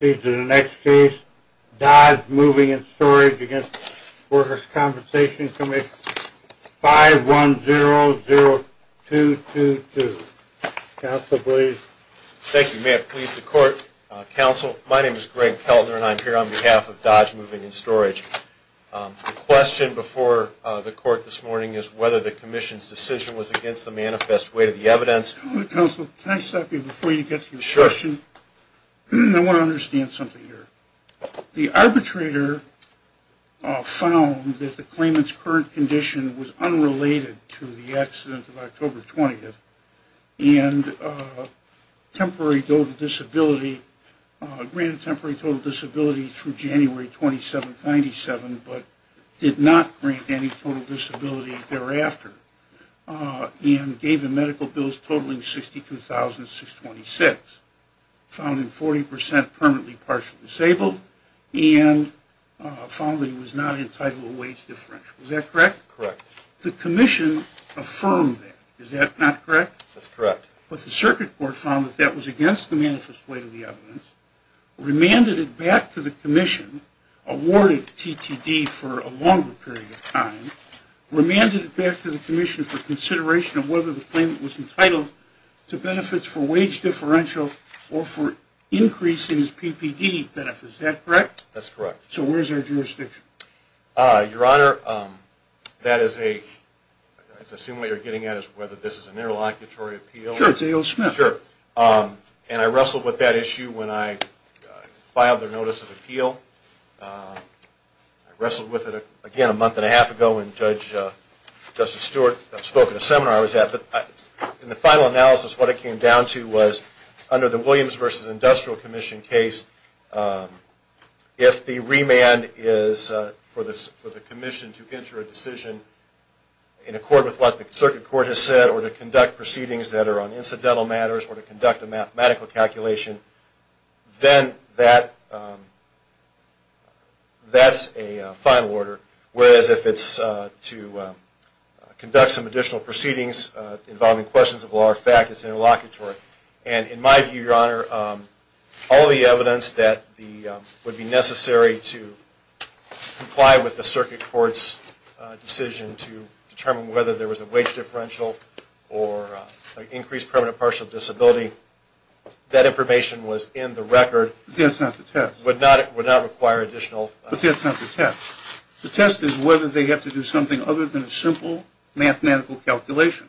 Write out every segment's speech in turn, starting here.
5100222. Counsel, please. Thank you, Mayor. Please, the Court, Counsel. My name is Greg Keltner and I'm here on behalf of Dodge Moving and Storage. The question before the Court this morning is whether the Commission's decision was against the manifest way to the evidence. Counsel, can I stop you before you get to your question? Sure. I want to understand something here. The arbitrator found that the claimant's current condition was unrelated to the accident of October 20th and temporary total disability, granted temporary total disability through January 27, 1997, but did not grant any total disability thereafter and gave him medical bills totaling $62,626, found him 40% permanently partially disabled and found that he was not entitled to a wage differential. Is that correct? Correct. The Commission affirmed that. Is that not correct? That's correct. But the Circuit Court found that that was against the manifest way to the evidence, remanded it back to the Commission, awarded TTD for a longer period of time, remanded it back to the Commission for consideration of whether the claimant was entitled to benefits for wage differential or for increasing his PPD benefits. Is that correct? That's correct. So where's our jurisdiction? Your Honor, that is a, I assume what you're getting at is whether this is an interlocutory appeal. Sure, it's an interlocutory appeal. I wrestled with it again a month and a half ago when Judge Justice Stewart spoke at a seminar I was at, but in the final analysis what it came down to was under the Williams v. Industrial Commission case, if the remand is for the Commission to enter a decision in accord with what the Circuit Court has said or to conduct proceedings that are on incidental matters or to conduct a mathematical calculation, then that's a final order. Whereas if it's to conduct some additional proceedings involving questions of law or fact, it's interlocutory. And in my view, Your Honor, all the evidence that would be necessary to comply with the Circuit Court's decision to determine whether there was a wage differential or an increased permanent partial disability, that information was in the record. That's not the test. Would not require additional... But that's not the test. The test is whether they have to do something other than a simple mathematical calculation.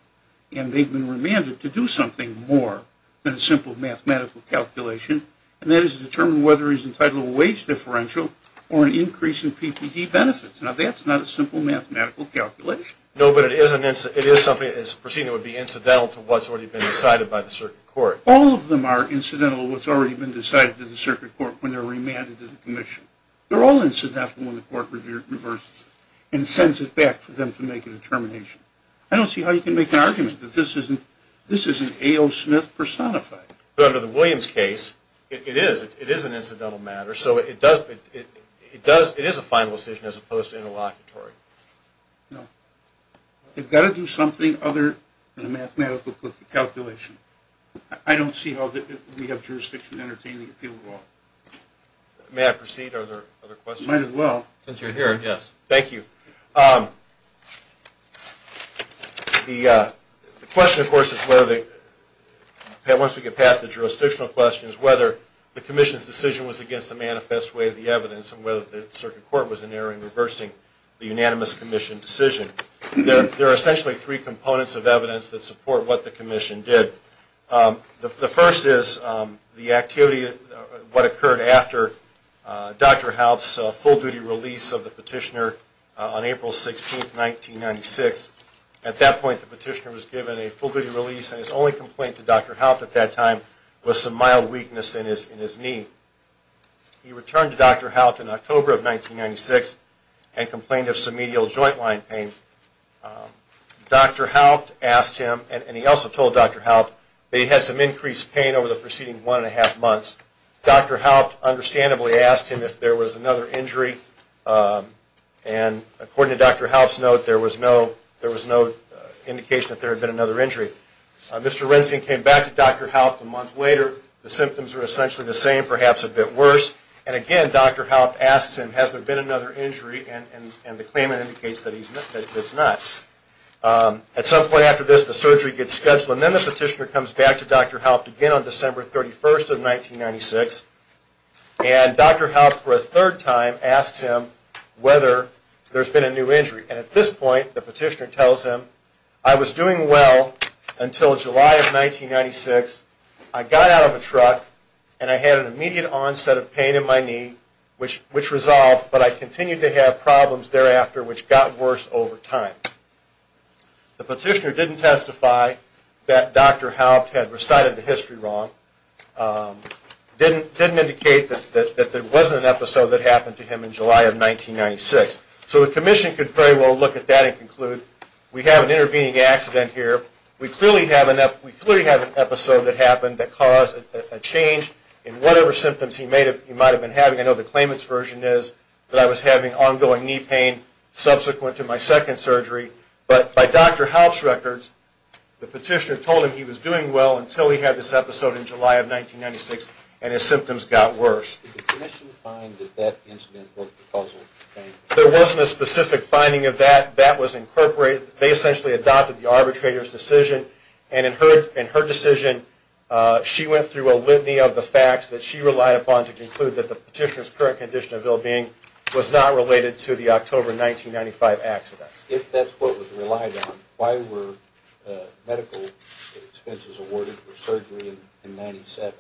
And they've been remanded to do something more than a simple mathematical calculation, and that is to determine whether he's entitled to a wage differential or an increase in PPD benefits. Now, that's not a simple mathematical calculation. No, but it is something that would be incidental to what's already been decided by the Circuit Court. All of them are incidental to what's already been decided by the Circuit Court when they're remanded to the Commission. They're all incidental when the Court reverses and sends it back for them to make a determination. I don't see how you can make an argument that this isn't A.O. Smith personified. But under the Williams case, it is an incidental matter, so it does... It is a final decision as opposed to interlocutory. No. They've got to do something other than a mathematical calculation. I don't see how we have jurisdiction to entertain the appeal of the law. May I proceed? Are there other questions? You might as well. Since you're here, yes. Thank you. The question, of course, is whether they... Once we get past the jurisdictional questions, whether the Commission's decision was against the manifest way of the evidence and whether the Circuit Court was in there in reversing the unanimous Commission decision, there are essentially three components of evidence that support what the Commission did. The first is the activity, what occurred after Dr. Haupt's full-duty release of the petitioner on April 16, 1996. At that point, the petitioner was given a full-duty release and his only complaint to Dr. Haupt at that time was some mild weakness in his knee. He returned to Dr. Haupt in October of 1996 and complained of somedial joint line pain. Dr. Haupt asked him, and he also told Dr. Haupt, that he had some increased pain over the preceding one and a half months. Dr. Haupt understandably asked him if there was another injury, and according to Dr. Haupt's note, there was no indication that there had been another injury. Mr. Rensing came back to Dr. Haupt a month later. The symptoms were essentially the same, perhaps a bit worse. And again, Dr. Haupt asks him, has there been another injury, and the claimant indicates that it's not. At some point after this, the surgery gets scheduled, and then the petitioner comes back to Dr. Haupt again on December 31, 1996, and Dr. Haupt for a third time asks him whether there's been a new injury. And at this point, the petitioner tells him, I was doing well until July of 1996. I got out of a truck and I had an immediate onset of pain in my knee which resolved, but I continued to have problems thereafter which got worse over time. The petitioner didn't testify that Dr. Haupt had recited the history wrong, didn't indicate that there wasn't an episode that happened to him in July of 1996. So the commission could very well look at that and conclude, we have an intervening accident here. We clearly have an episode that happened that caused a change in whatever symptoms he might have been having. I know the claimant's version is that I was having ongoing knee pain subsequent to my second surgery. But by Dr. Haupt's records, the petitioner told him he was doing well until he had this episode in July of 1996, and his symptoms got worse. Did the commission find that that incident was the cause of the pain? There wasn't a specific finding of that. That was incorporated. They essentially adopted the arbitrator's decision. And in her decision, she went through a litany of the facts that she relied upon to conclude that the petitioner's current condition of ill-being was not related to the October 1995 accident. If that's what was relied on, why were medical expenses awarded for surgery in 1997?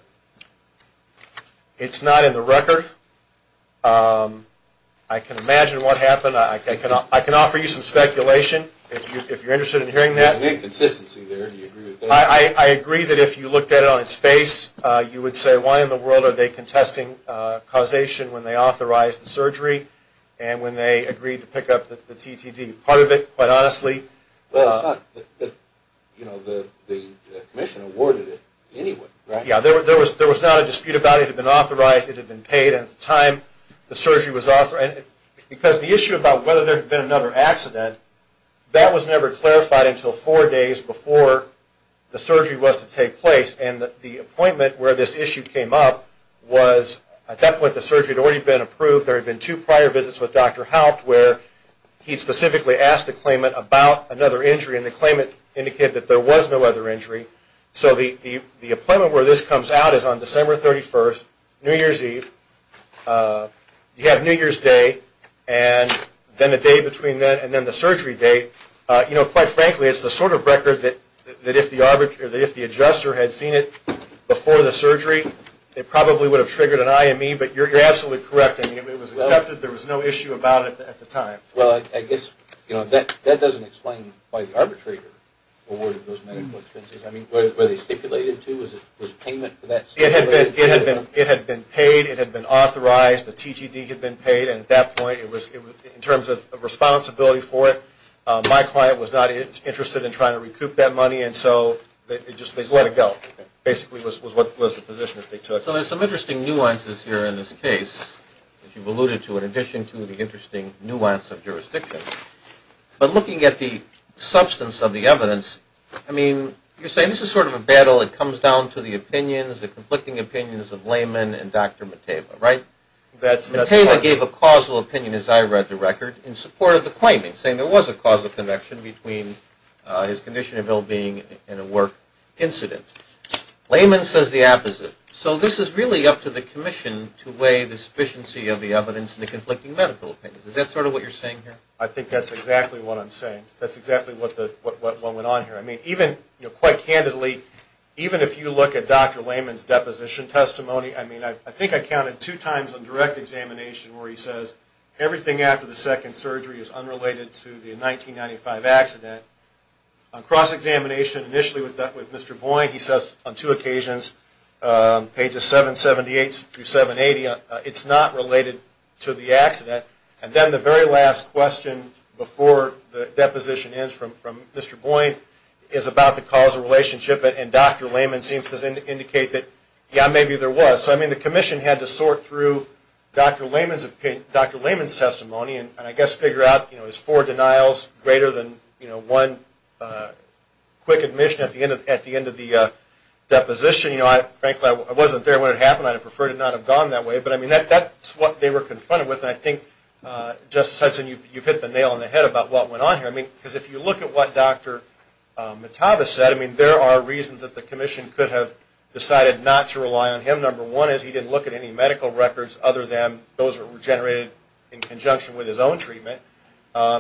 It's not in the record. I can imagine what happened. I can offer you some speculation if you're interested in hearing that. There's an inconsistency there. Do you agree with that? I agree that if you looked at it on its face, you would say, why in the world are they contesting causation when they authorized the surgery and when they agreed to pick up the TTD? Part of it, quite honestly... Well, it's not that the commission awarded it anyway, right? Yeah. There was not a dispute about it. It had been authorized. It had been paid. And at the time, the surgery was authorized. Because the issue about whether there had been another accident, that was never clarified until four days before the surgery was to take place. And the appointment where this issue came up was, at that point, the surgery had already been approved. There had been two prior visits with Dr. Haupt where he specifically asked the claimant about another injury. And the claimant indicated that there was no other And the date that this comes out is on December 31st, New Year's Eve. You have New Year's Day and then the day between that and then the surgery date. Quite frankly, it's the sort of record that if the adjuster had seen it before the surgery, it probably would have triggered an IME. But you're absolutely correct. It was accepted. There was no issue about it at the time. Well, I guess that doesn't explain why the arbitrator awarded those medical expenses. I mean, were they stipulated to? Was payment for that stipulated? It had been paid. It had been authorized. The TGD had been paid. And at that point, in terms of responsibility for it, my client was not interested in trying to recoup that money. And so they just let it go, basically, was the position that they took. So there's some interesting nuances here in this case that you've alluded to in addition to the interesting nuance of jurisdiction. But looking at the substance of the evidence, I mean, you're saying this is sort of a battle. It comes down to the opinions, the conflicting opinions of Lehman and Dr. Mateva, right? That's right. Mateva gave a causal opinion, as I read the record, in support of the claiming, saying there was a causal connection between his condition of ill-being and a work incident. Lehman says the opposite. So this is really up to the commission to weigh the sufficiency of the evidence and the conflicting medical opinions. Is that sort of what you're saying here? I think that's exactly what I'm saying. That's exactly what went on here. I mean, even, quite candidly, even if you look at Dr. Lehman's deposition testimony, I mean, I think I counted two times on direct examination where he says everything after the second surgery is unrelated to the 1995 accident. On cross-examination, initially with Mr. Boyne, he says on two occasions, pages 778 through 780, it's not related to the accident. And then the very last question before the deposition ends from Mr. Boyne is about the causal relationship, and Dr. Lehman seems to indicate that, yeah, maybe there was. So, I mean, the commission had to sort through Dr. Lehman's testimony and, I guess, figure out, you know, is four denials greater than, you know, one quick admission at the end of the deposition? You know, frankly, I wasn't there when it happened. I'd have preferred it not have gone that way. But, I mean, that's what they were confronted with. And I think, Justice Hudson, you've hit the nail on the head about what went on here. I mean, because if you look at what Dr. Metavis said, I mean, there are reasons that the commission could have decided not to rely on him. Number one is he didn't look at any medical records other than those that were generated in conjunction with his own treatment.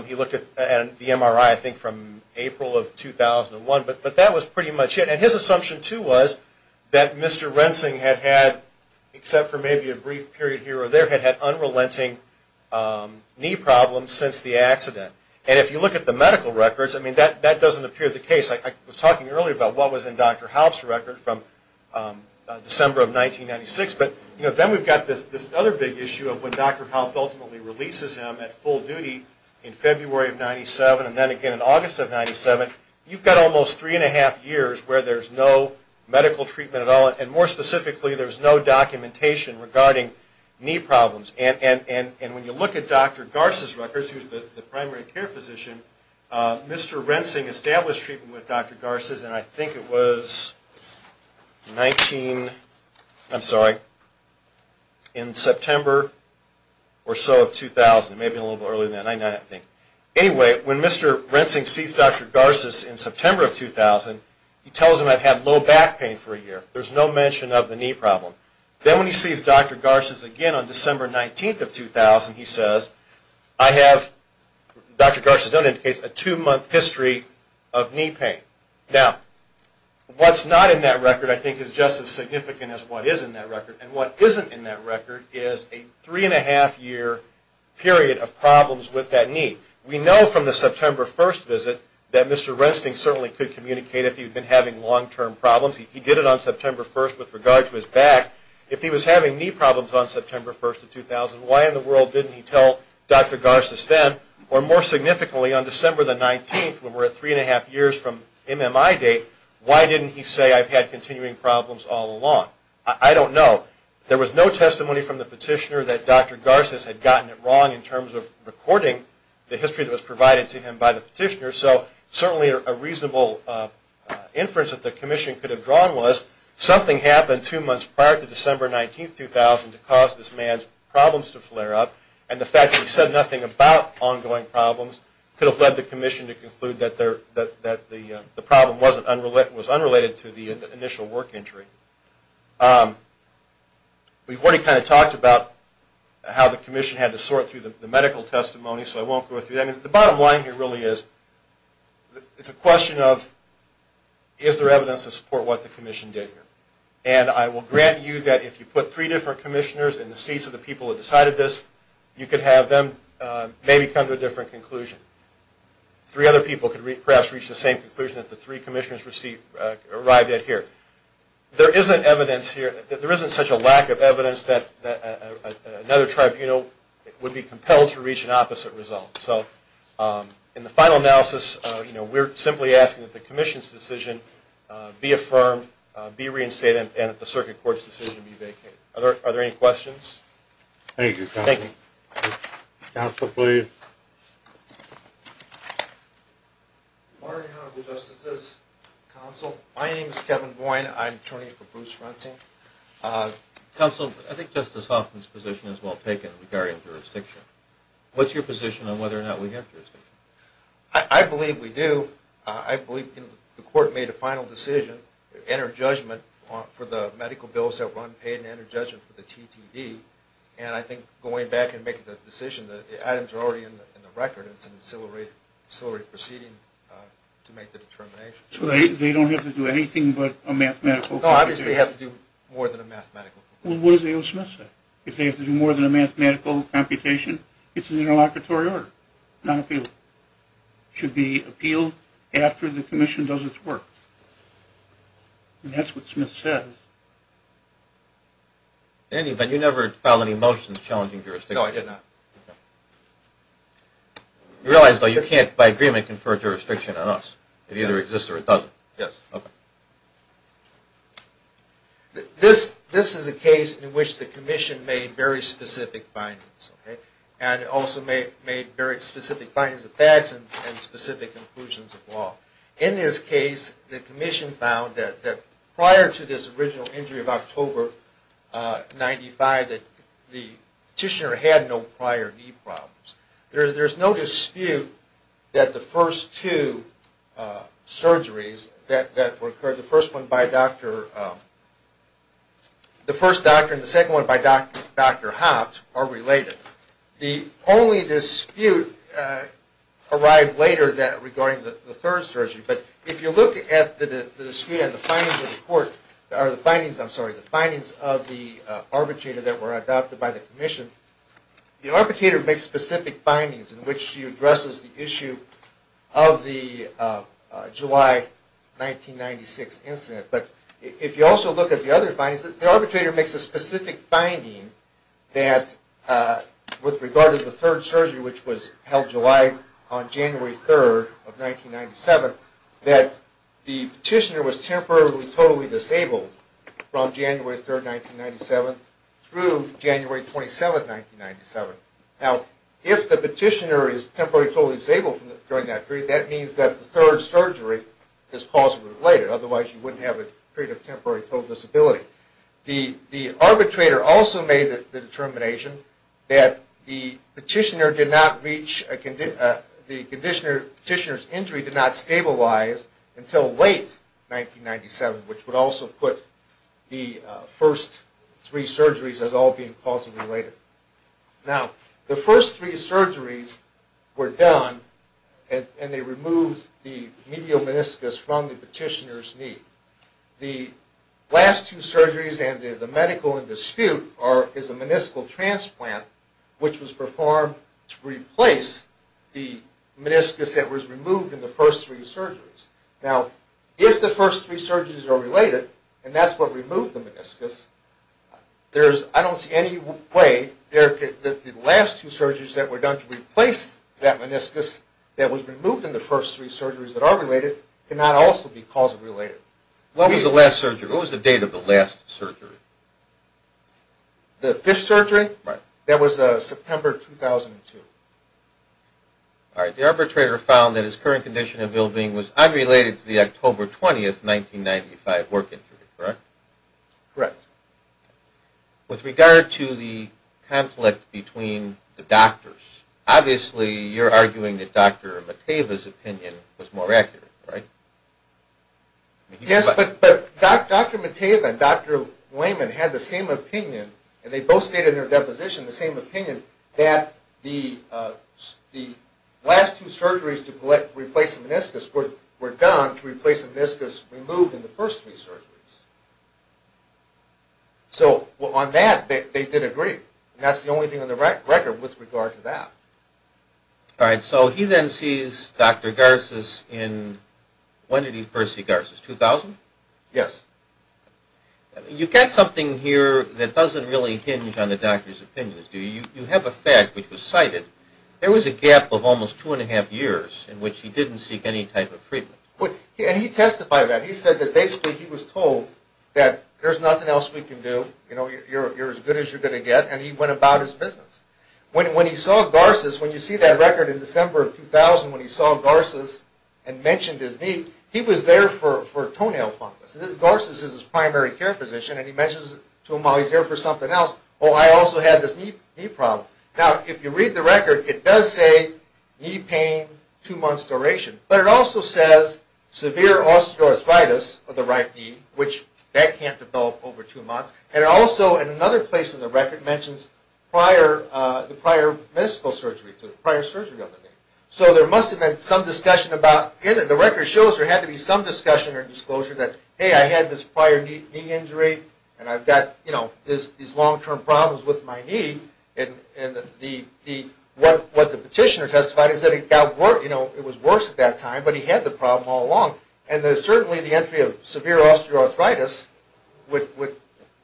He looked at the MRI, I think, from April of 2001. But that was pretty much it. And his assumption, too, was that Mr. Rensing had had, except for maybe a brief period here or there, had had unrelenting knee problems since the accident. And if you look at the medical records, I mean, that doesn't appear to be the case. I was talking earlier about what was in Dr. Halp's record from December of 1996. But, you know, then we've got this other big issue of when Dr. Halp ultimately releases him at full duty in February of 1997, and then again in August of 1997. You've got almost three and a half years where there's no medical treatment at all. And more specifically, there's no documentation regarding knee problems. And when you look at Dr. Garces' records, who's the primary care physician, Mr. Rensing established treatment with Dr. Garces, and I think it was 19, I'm sorry, in September or so of 2000, maybe a little bit earlier than that, 1999, I think. Anyway, when Mr. Rensing sees Dr. Garces in September of 2000, he tells him I've had low back pain for a year. There's no mention of the knee problem. Then when he sees Dr. Garces again on December 19th of 2000, he says, I have, Dr. Garces doesn't indicate, a two-month history of knee pain. Now, what's not in that record, I think, is just as significant as what is in that record. And what isn't in that record is a three and a half year period of problems with that knee. We know from the September 1st visit that Mr. Rensing certainly could communicate if he'd been having long-term problems. He did it on September 1st with regard to his back. If he was having knee problems on September 1st of 2000, why in the world didn't he tell Dr. Garces then, or more significantly, on December the 19th, when we're at three and a half years from MMI date, why didn't he say I've had continuing problems all along? I don't know. There was no testimony from the petitioner that Dr. Garces had gotten it wrong in terms of recording the history that was provided to him by the petitioner. So certainly a reasonable inference that the Commission could have drawn was something happened two months prior to December 19th, 2000, to cause this man's problems to flare up. And the fact that he said nothing about ongoing problems could have led the Commission to conclude that the problem was unrelated to the initial work injury. We've already kind of talked about how the Commission had to sort through the medical testimony, so I won't go through that. The bottom line here really is it's a question of is there evidence to support what the Commission did here. And I will grant you that if you put three different commissioners in the seats of the people who decided this, you could have them maybe come to a different conclusion. Three other people could perhaps reach the same conclusion that the three commissioners arrived at here. There isn't evidence here, there isn't such a lack of evidence that another tribunal would be compelled to reach an opposite result. So in the final analysis, we're simply asking that the Commission's decision be affirmed, be reinstated, and that the Circuit Court's decision be vacated. Are there any questions? Thank you, Counsel. Counsel, please. Good morning, Honorable Justices, Counsel. My name is Kevin Boyne. I'm an attorney for Bruce Rensing. Counsel, I think Justice Hoffman's position is well taken regarding jurisdiction. What's your position on whether or not we have jurisdiction? I believe we do. I believe the Court made a final decision, entered judgment for the people, and I think going back and making the decision, the items are already in the record. It's an ancillary proceeding to make the determination. So they don't have to do anything but a mathematical computation? No, obviously they have to do more than a mathematical computation. Well, what does A.O. Smith say? If they have to do more than a mathematical computation, it's an interlocutory order, not appeal. It should be appealed after the Commission does its work. And that's what Smith says. Andy, but you never filed any motions challenging jurisdiction. No, I did not. You realize, though, you can't, by agreement, confer jurisdiction on us. It either exists or it doesn't. Yes. Okay. This is a case in which the Commission made very specific findings, and also made very specific findings of facts and specific conclusions of law. In this case, the Commission found that prior to this original injury of October 1995, the petitioner had no prior knee problems. There's no dispute that the first two surgeries that occurred, the first one by Dr. The first doctor and the second one by Dr. Hopped are related. The only dispute arrived later regarding the third surgery. But if you look at the dispute and the findings of the Court, I'm sorry, the findings of the arbitrator that were adopted by the Commission, the arbitrator makes specific findings in which he addresses the issue of the July 1996 incident. But if you also look at the other findings, the arbitrator makes a specific finding that with regard to the third surgery, which was held July on January 3rd of 1997, that the petitioner was temporarily totally disabled from January 3rd, 1997 through January 27th, 1997. Now, if the petitioner is temporarily totally disabled during that period, that means that the third surgery is causally related. Otherwise, you wouldn't have a period of determination that the petitioner did not reach, the petitioner's injury did not stabilize until late 1997, which would also put the first three surgeries as all being causally related. Now, the first three surgeries were done and they removed the medial meniscus from the petitioner's knee. The last two surgeries and the medical dispute is a meniscal transplant, which was performed to replace the meniscus that was removed in the first three surgeries. Now, if the first three surgeries are related, and that's what removed the meniscus, I don't see any way that the last two surgeries that were done to replace that would not also be causally related. What was the last surgery? What was the date of the last surgery? The fifth surgery? Right. That was September 2002. All right. The arbitrator found that his current condition of ill being was unrelated to the October 20th, 1995 work injury, correct? Correct. With regard to the conflict between the doctors, obviously you're arguing that Dr. Mataeva's opinion was more accurate, right? Yes, but Dr. Mataeva and Dr. Lehman had the same opinion, and they both stated in their deposition the same opinion, that the last two surgeries to replace the meniscus were done to replace the meniscus removed in the first three surgeries. So, on that, they did agree, and that's the only thing on the record with regard to that. All right. So, he then sees Dr. Garces in, when did he first see Garces, 2000? Yes. You've got something here that doesn't really hinge on the doctor's opinions, do you? You have a fact which was cited. There was a gap of almost two and a half years in which he didn't seek any type of treatment. And he testified to that. He said that basically he was told that there's nothing else we can do, you know, you're as good as you're going to get, and he went about his business. When he saw Garces, when you see that record in December of 2000 when he saw Garces and mentioned his knee, he was there for toenail fungus. Garces is his primary care physician, and he mentions to him while he's there for something else, oh, I also have this knee problem. Now, if you read the record, it does say knee pain, two months duration, but it also says severe osteoarthritis of the right knee, which that can't develop over two months, and it also, in another place in the record, mentions prior, the prior medical surgery, prior surgery on the knee. So there must have been some discussion about, the record shows there had to be some discussion or disclosure that, hey, I had this prior knee injury, and I've got, you know, these long-term problems with my knee, and the, what the petitioner testified is that it got worse, you know, it was worse at that time, but he had the problem all along, and certainly the entry of severe osteoarthritis would.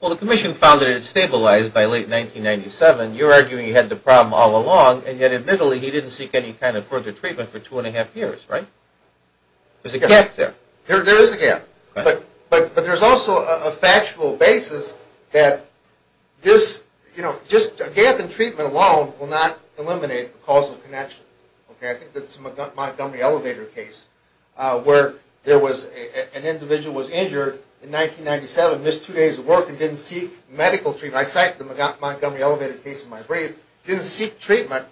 Well, the commission found that it stabilized by late 1997. You're arguing he had the problem all along, and yet, admittedly, he didn't seek any kind of further treatment for two and a half years, right? There's a gap there. There is a gap, but there's also a factual basis that this, you know, just a gap in treatment alone will not eliminate the causal connection, okay? I think that's Montgomery Elevator case, where there was, an individual was injured in 1997, missed two days of work, and didn't seek medical treatment. I cite the Montgomery Elevator case in my brief, didn't seek treatment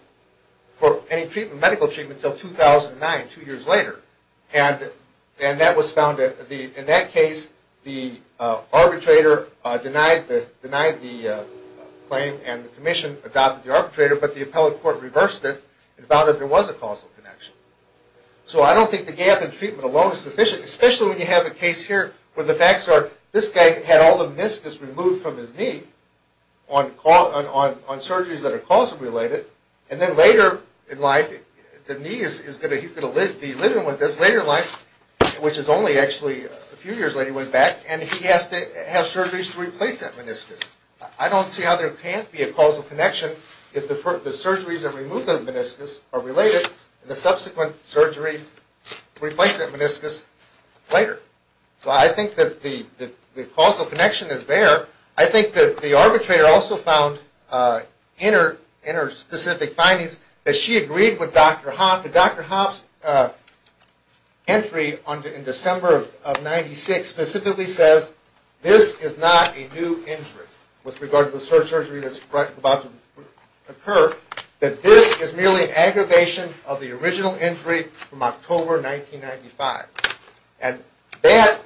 for any treatment, medical treatment, until 2009, two years later, and that was found, in that case, the arbitrator denied the claim, and the commission adopted the arbitrator, but the appellate court reversed it and found that there was a causal connection. So I don't think the gap in treatment alone is sufficient, especially when you have a case here where the facts are, this guy had all the meniscus removed from his knee on surgeries that are causal related, and then later in life, the knee is going to, he's going to be living with this later in life, which is only actually a few years later when he went back, and he has to have surgeries to replace that meniscus. I don't see how there can't be a causal connection if the surgeries that remove the meniscus are related and the subsequent surgery replaces that meniscus later. So I think that the causal connection is there. I think that the arbitrator also found in her specific findings that she agreed with Dr. Hoppe, and Dr. Hoppe's entry in December of 96 specifically says this is not a new injury with regard to the surgery that's about to occur, that this is merely an aggravation of the original injury from October 1995. And that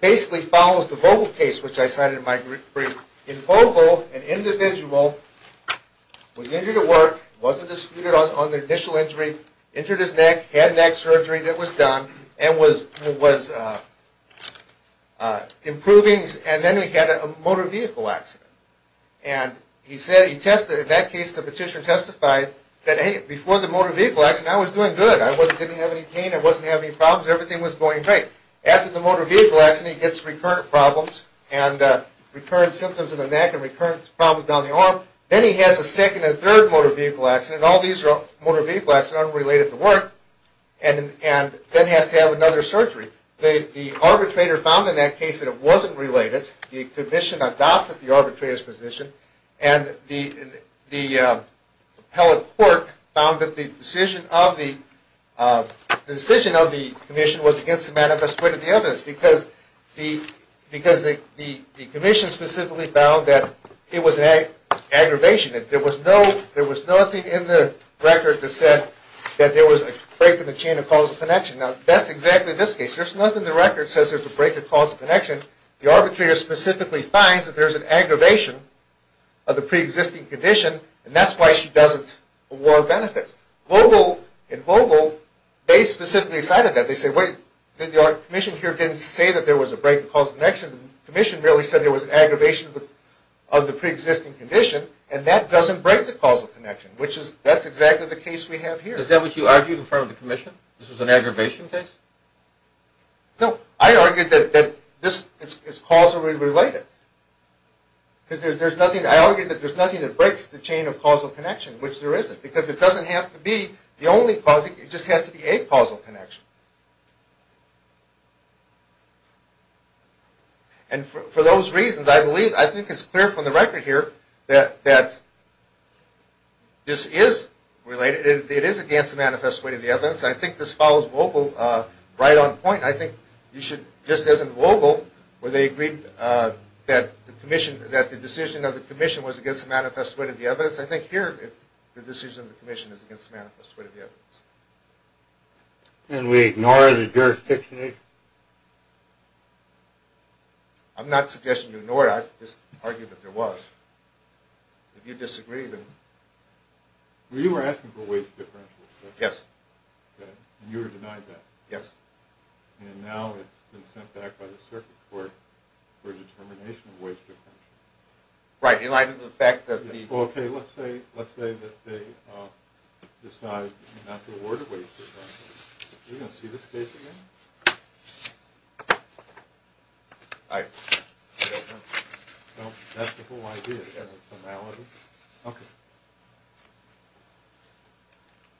basically follows the Vogel case, which I cited in my brief. In Vogel, an individual was injured at work, wasn't disputed on the initial injury, injured his neck, had neck surgery that was done, and was improving, and then he had a motor vehicle accident. And he said, he tested, in that case the petitioner testified that, hey, before the motor vehicle accident I was doing good, I didn't have any pain, I wasn't having any problems, everything was going great. After the motor vehicle accident he gets recurrent problems and recurrent symptoms in the neck and recurrent problems down the arm. Then he has a second and third motor vehicle accident, all these motor vehicle accidents unrelated to work, and then has to have another surgery. The arbitrator found in that case that it wasn't related, the appellate court found that the decision of the commission was against the manifest weight of the evidence, because the commission specifically found that it was an aggravation, that there was nothing in the record that said that there was a break in the chain of causal connection. Now that's exactly this case, there's nothing in the record that says there's a break in causal connection. The arbitrator specifically finds that there's an aggravation of the pre-existing condition, and that's why she doesn't award benefits. Vogel and Vogel, they specifically cited that. They said, wait, the commission here didn't say that there was a break in causal connection, the commission really said there was an aggravation of the pre-existing condition, and that doesn't break the causal connection, which is, that's exactly the case we have here. Is that what you argued in front of the commission? This was an aggravation case? No, I argued that this is causally related. I argued that there's nothing that breaks the chain of causal connection, which there isn't, because it doesn't have to be the only causal, it just has to be a causal connection. And for those reasons, I believe, I think it's clear from the record here that this is related, it is against the manifest weight of the evidence, and I think this follows Vogel right on point. I think you should, just as in Vogel, where they agreed that the commission, that the decision of the commission was against the manifest weight of the evidence, I think here the decision of the commission is against the manifest weight of the evidence. And we ignore the jurisdiction? I'm not suggesting you ignore it, I just argue that there was. If you disagree, then... Well, you were asking for a weight differential. Yes. And you were denied that. Yes. And now it's been sent back by the circuit court for a determination of weight differential. Right, in light of the fact that the... Well, okay, let's say that they decide not to award a weight differential. Are you going to see this case again? I... Well, that's the whole idea, as a formality. Okay.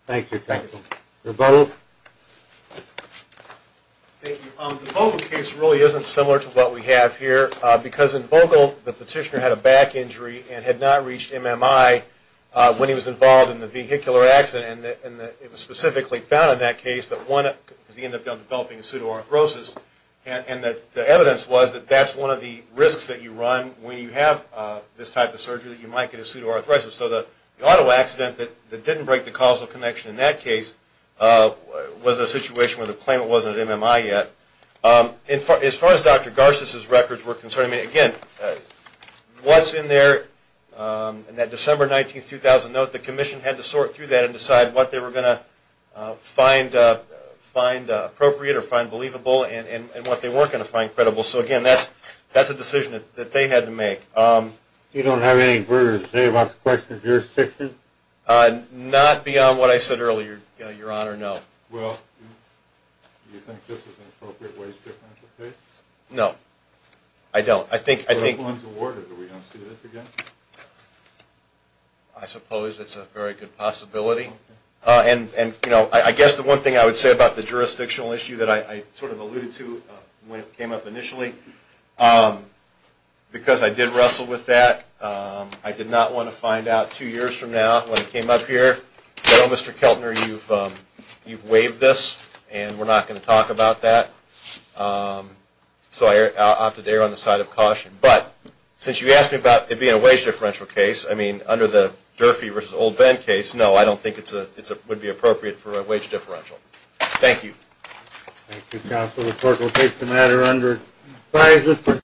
Thank you, thank you. Rebuttal? Thank you. The Vogel case really isn't similar to what we have here, because in Vogel, the petitioner had a back injury and had not reached MMI when he was involved in the vehicular accident, and it was specifically found in that case that one, because he ended up developing a pseudo-arthrosis, and the evidence was that that's one of the risks that you run when you have this type of surgery, that you might get a pseudo-arthrosis. So the auto accident that didn't break the causal connection in that case was a situation where the claimant wasn't at MMI yet. As far as Dr. Garces' records were concerned, I mean, again, what's in there in that December 19, 2000 note, the commission had to sort through that and decide what they were going to find appropriate or find believable and what they weren't going to find credible. So again, that's a decision that they had to make. You don't have any further to say about the question of jurisdiction? Not beyond what I said earlier, Your Honor, no. Well, do you think this is an appropriate wage differential case? No, I don't. I think... No one's awarded. Are we going to see this again? I suppose it's a very good possibility. And I guess the one thing I would say about the jurisdictional issue that I sort of alluded to when it came up initially, because I did wrestle with that, I did not want to find out two years from now when it came up here, well, Mr. Keltner, you've waived this and we're not going to talk about that. So I opted to err on the side of caution. But since you asked me about it being a wage differential case, I mean, under the Durfee v. Old Bend case, no, I don't think it would be appropriate for a wage differential. Thank you. Thank you, counsel. The court will take the matter under revised.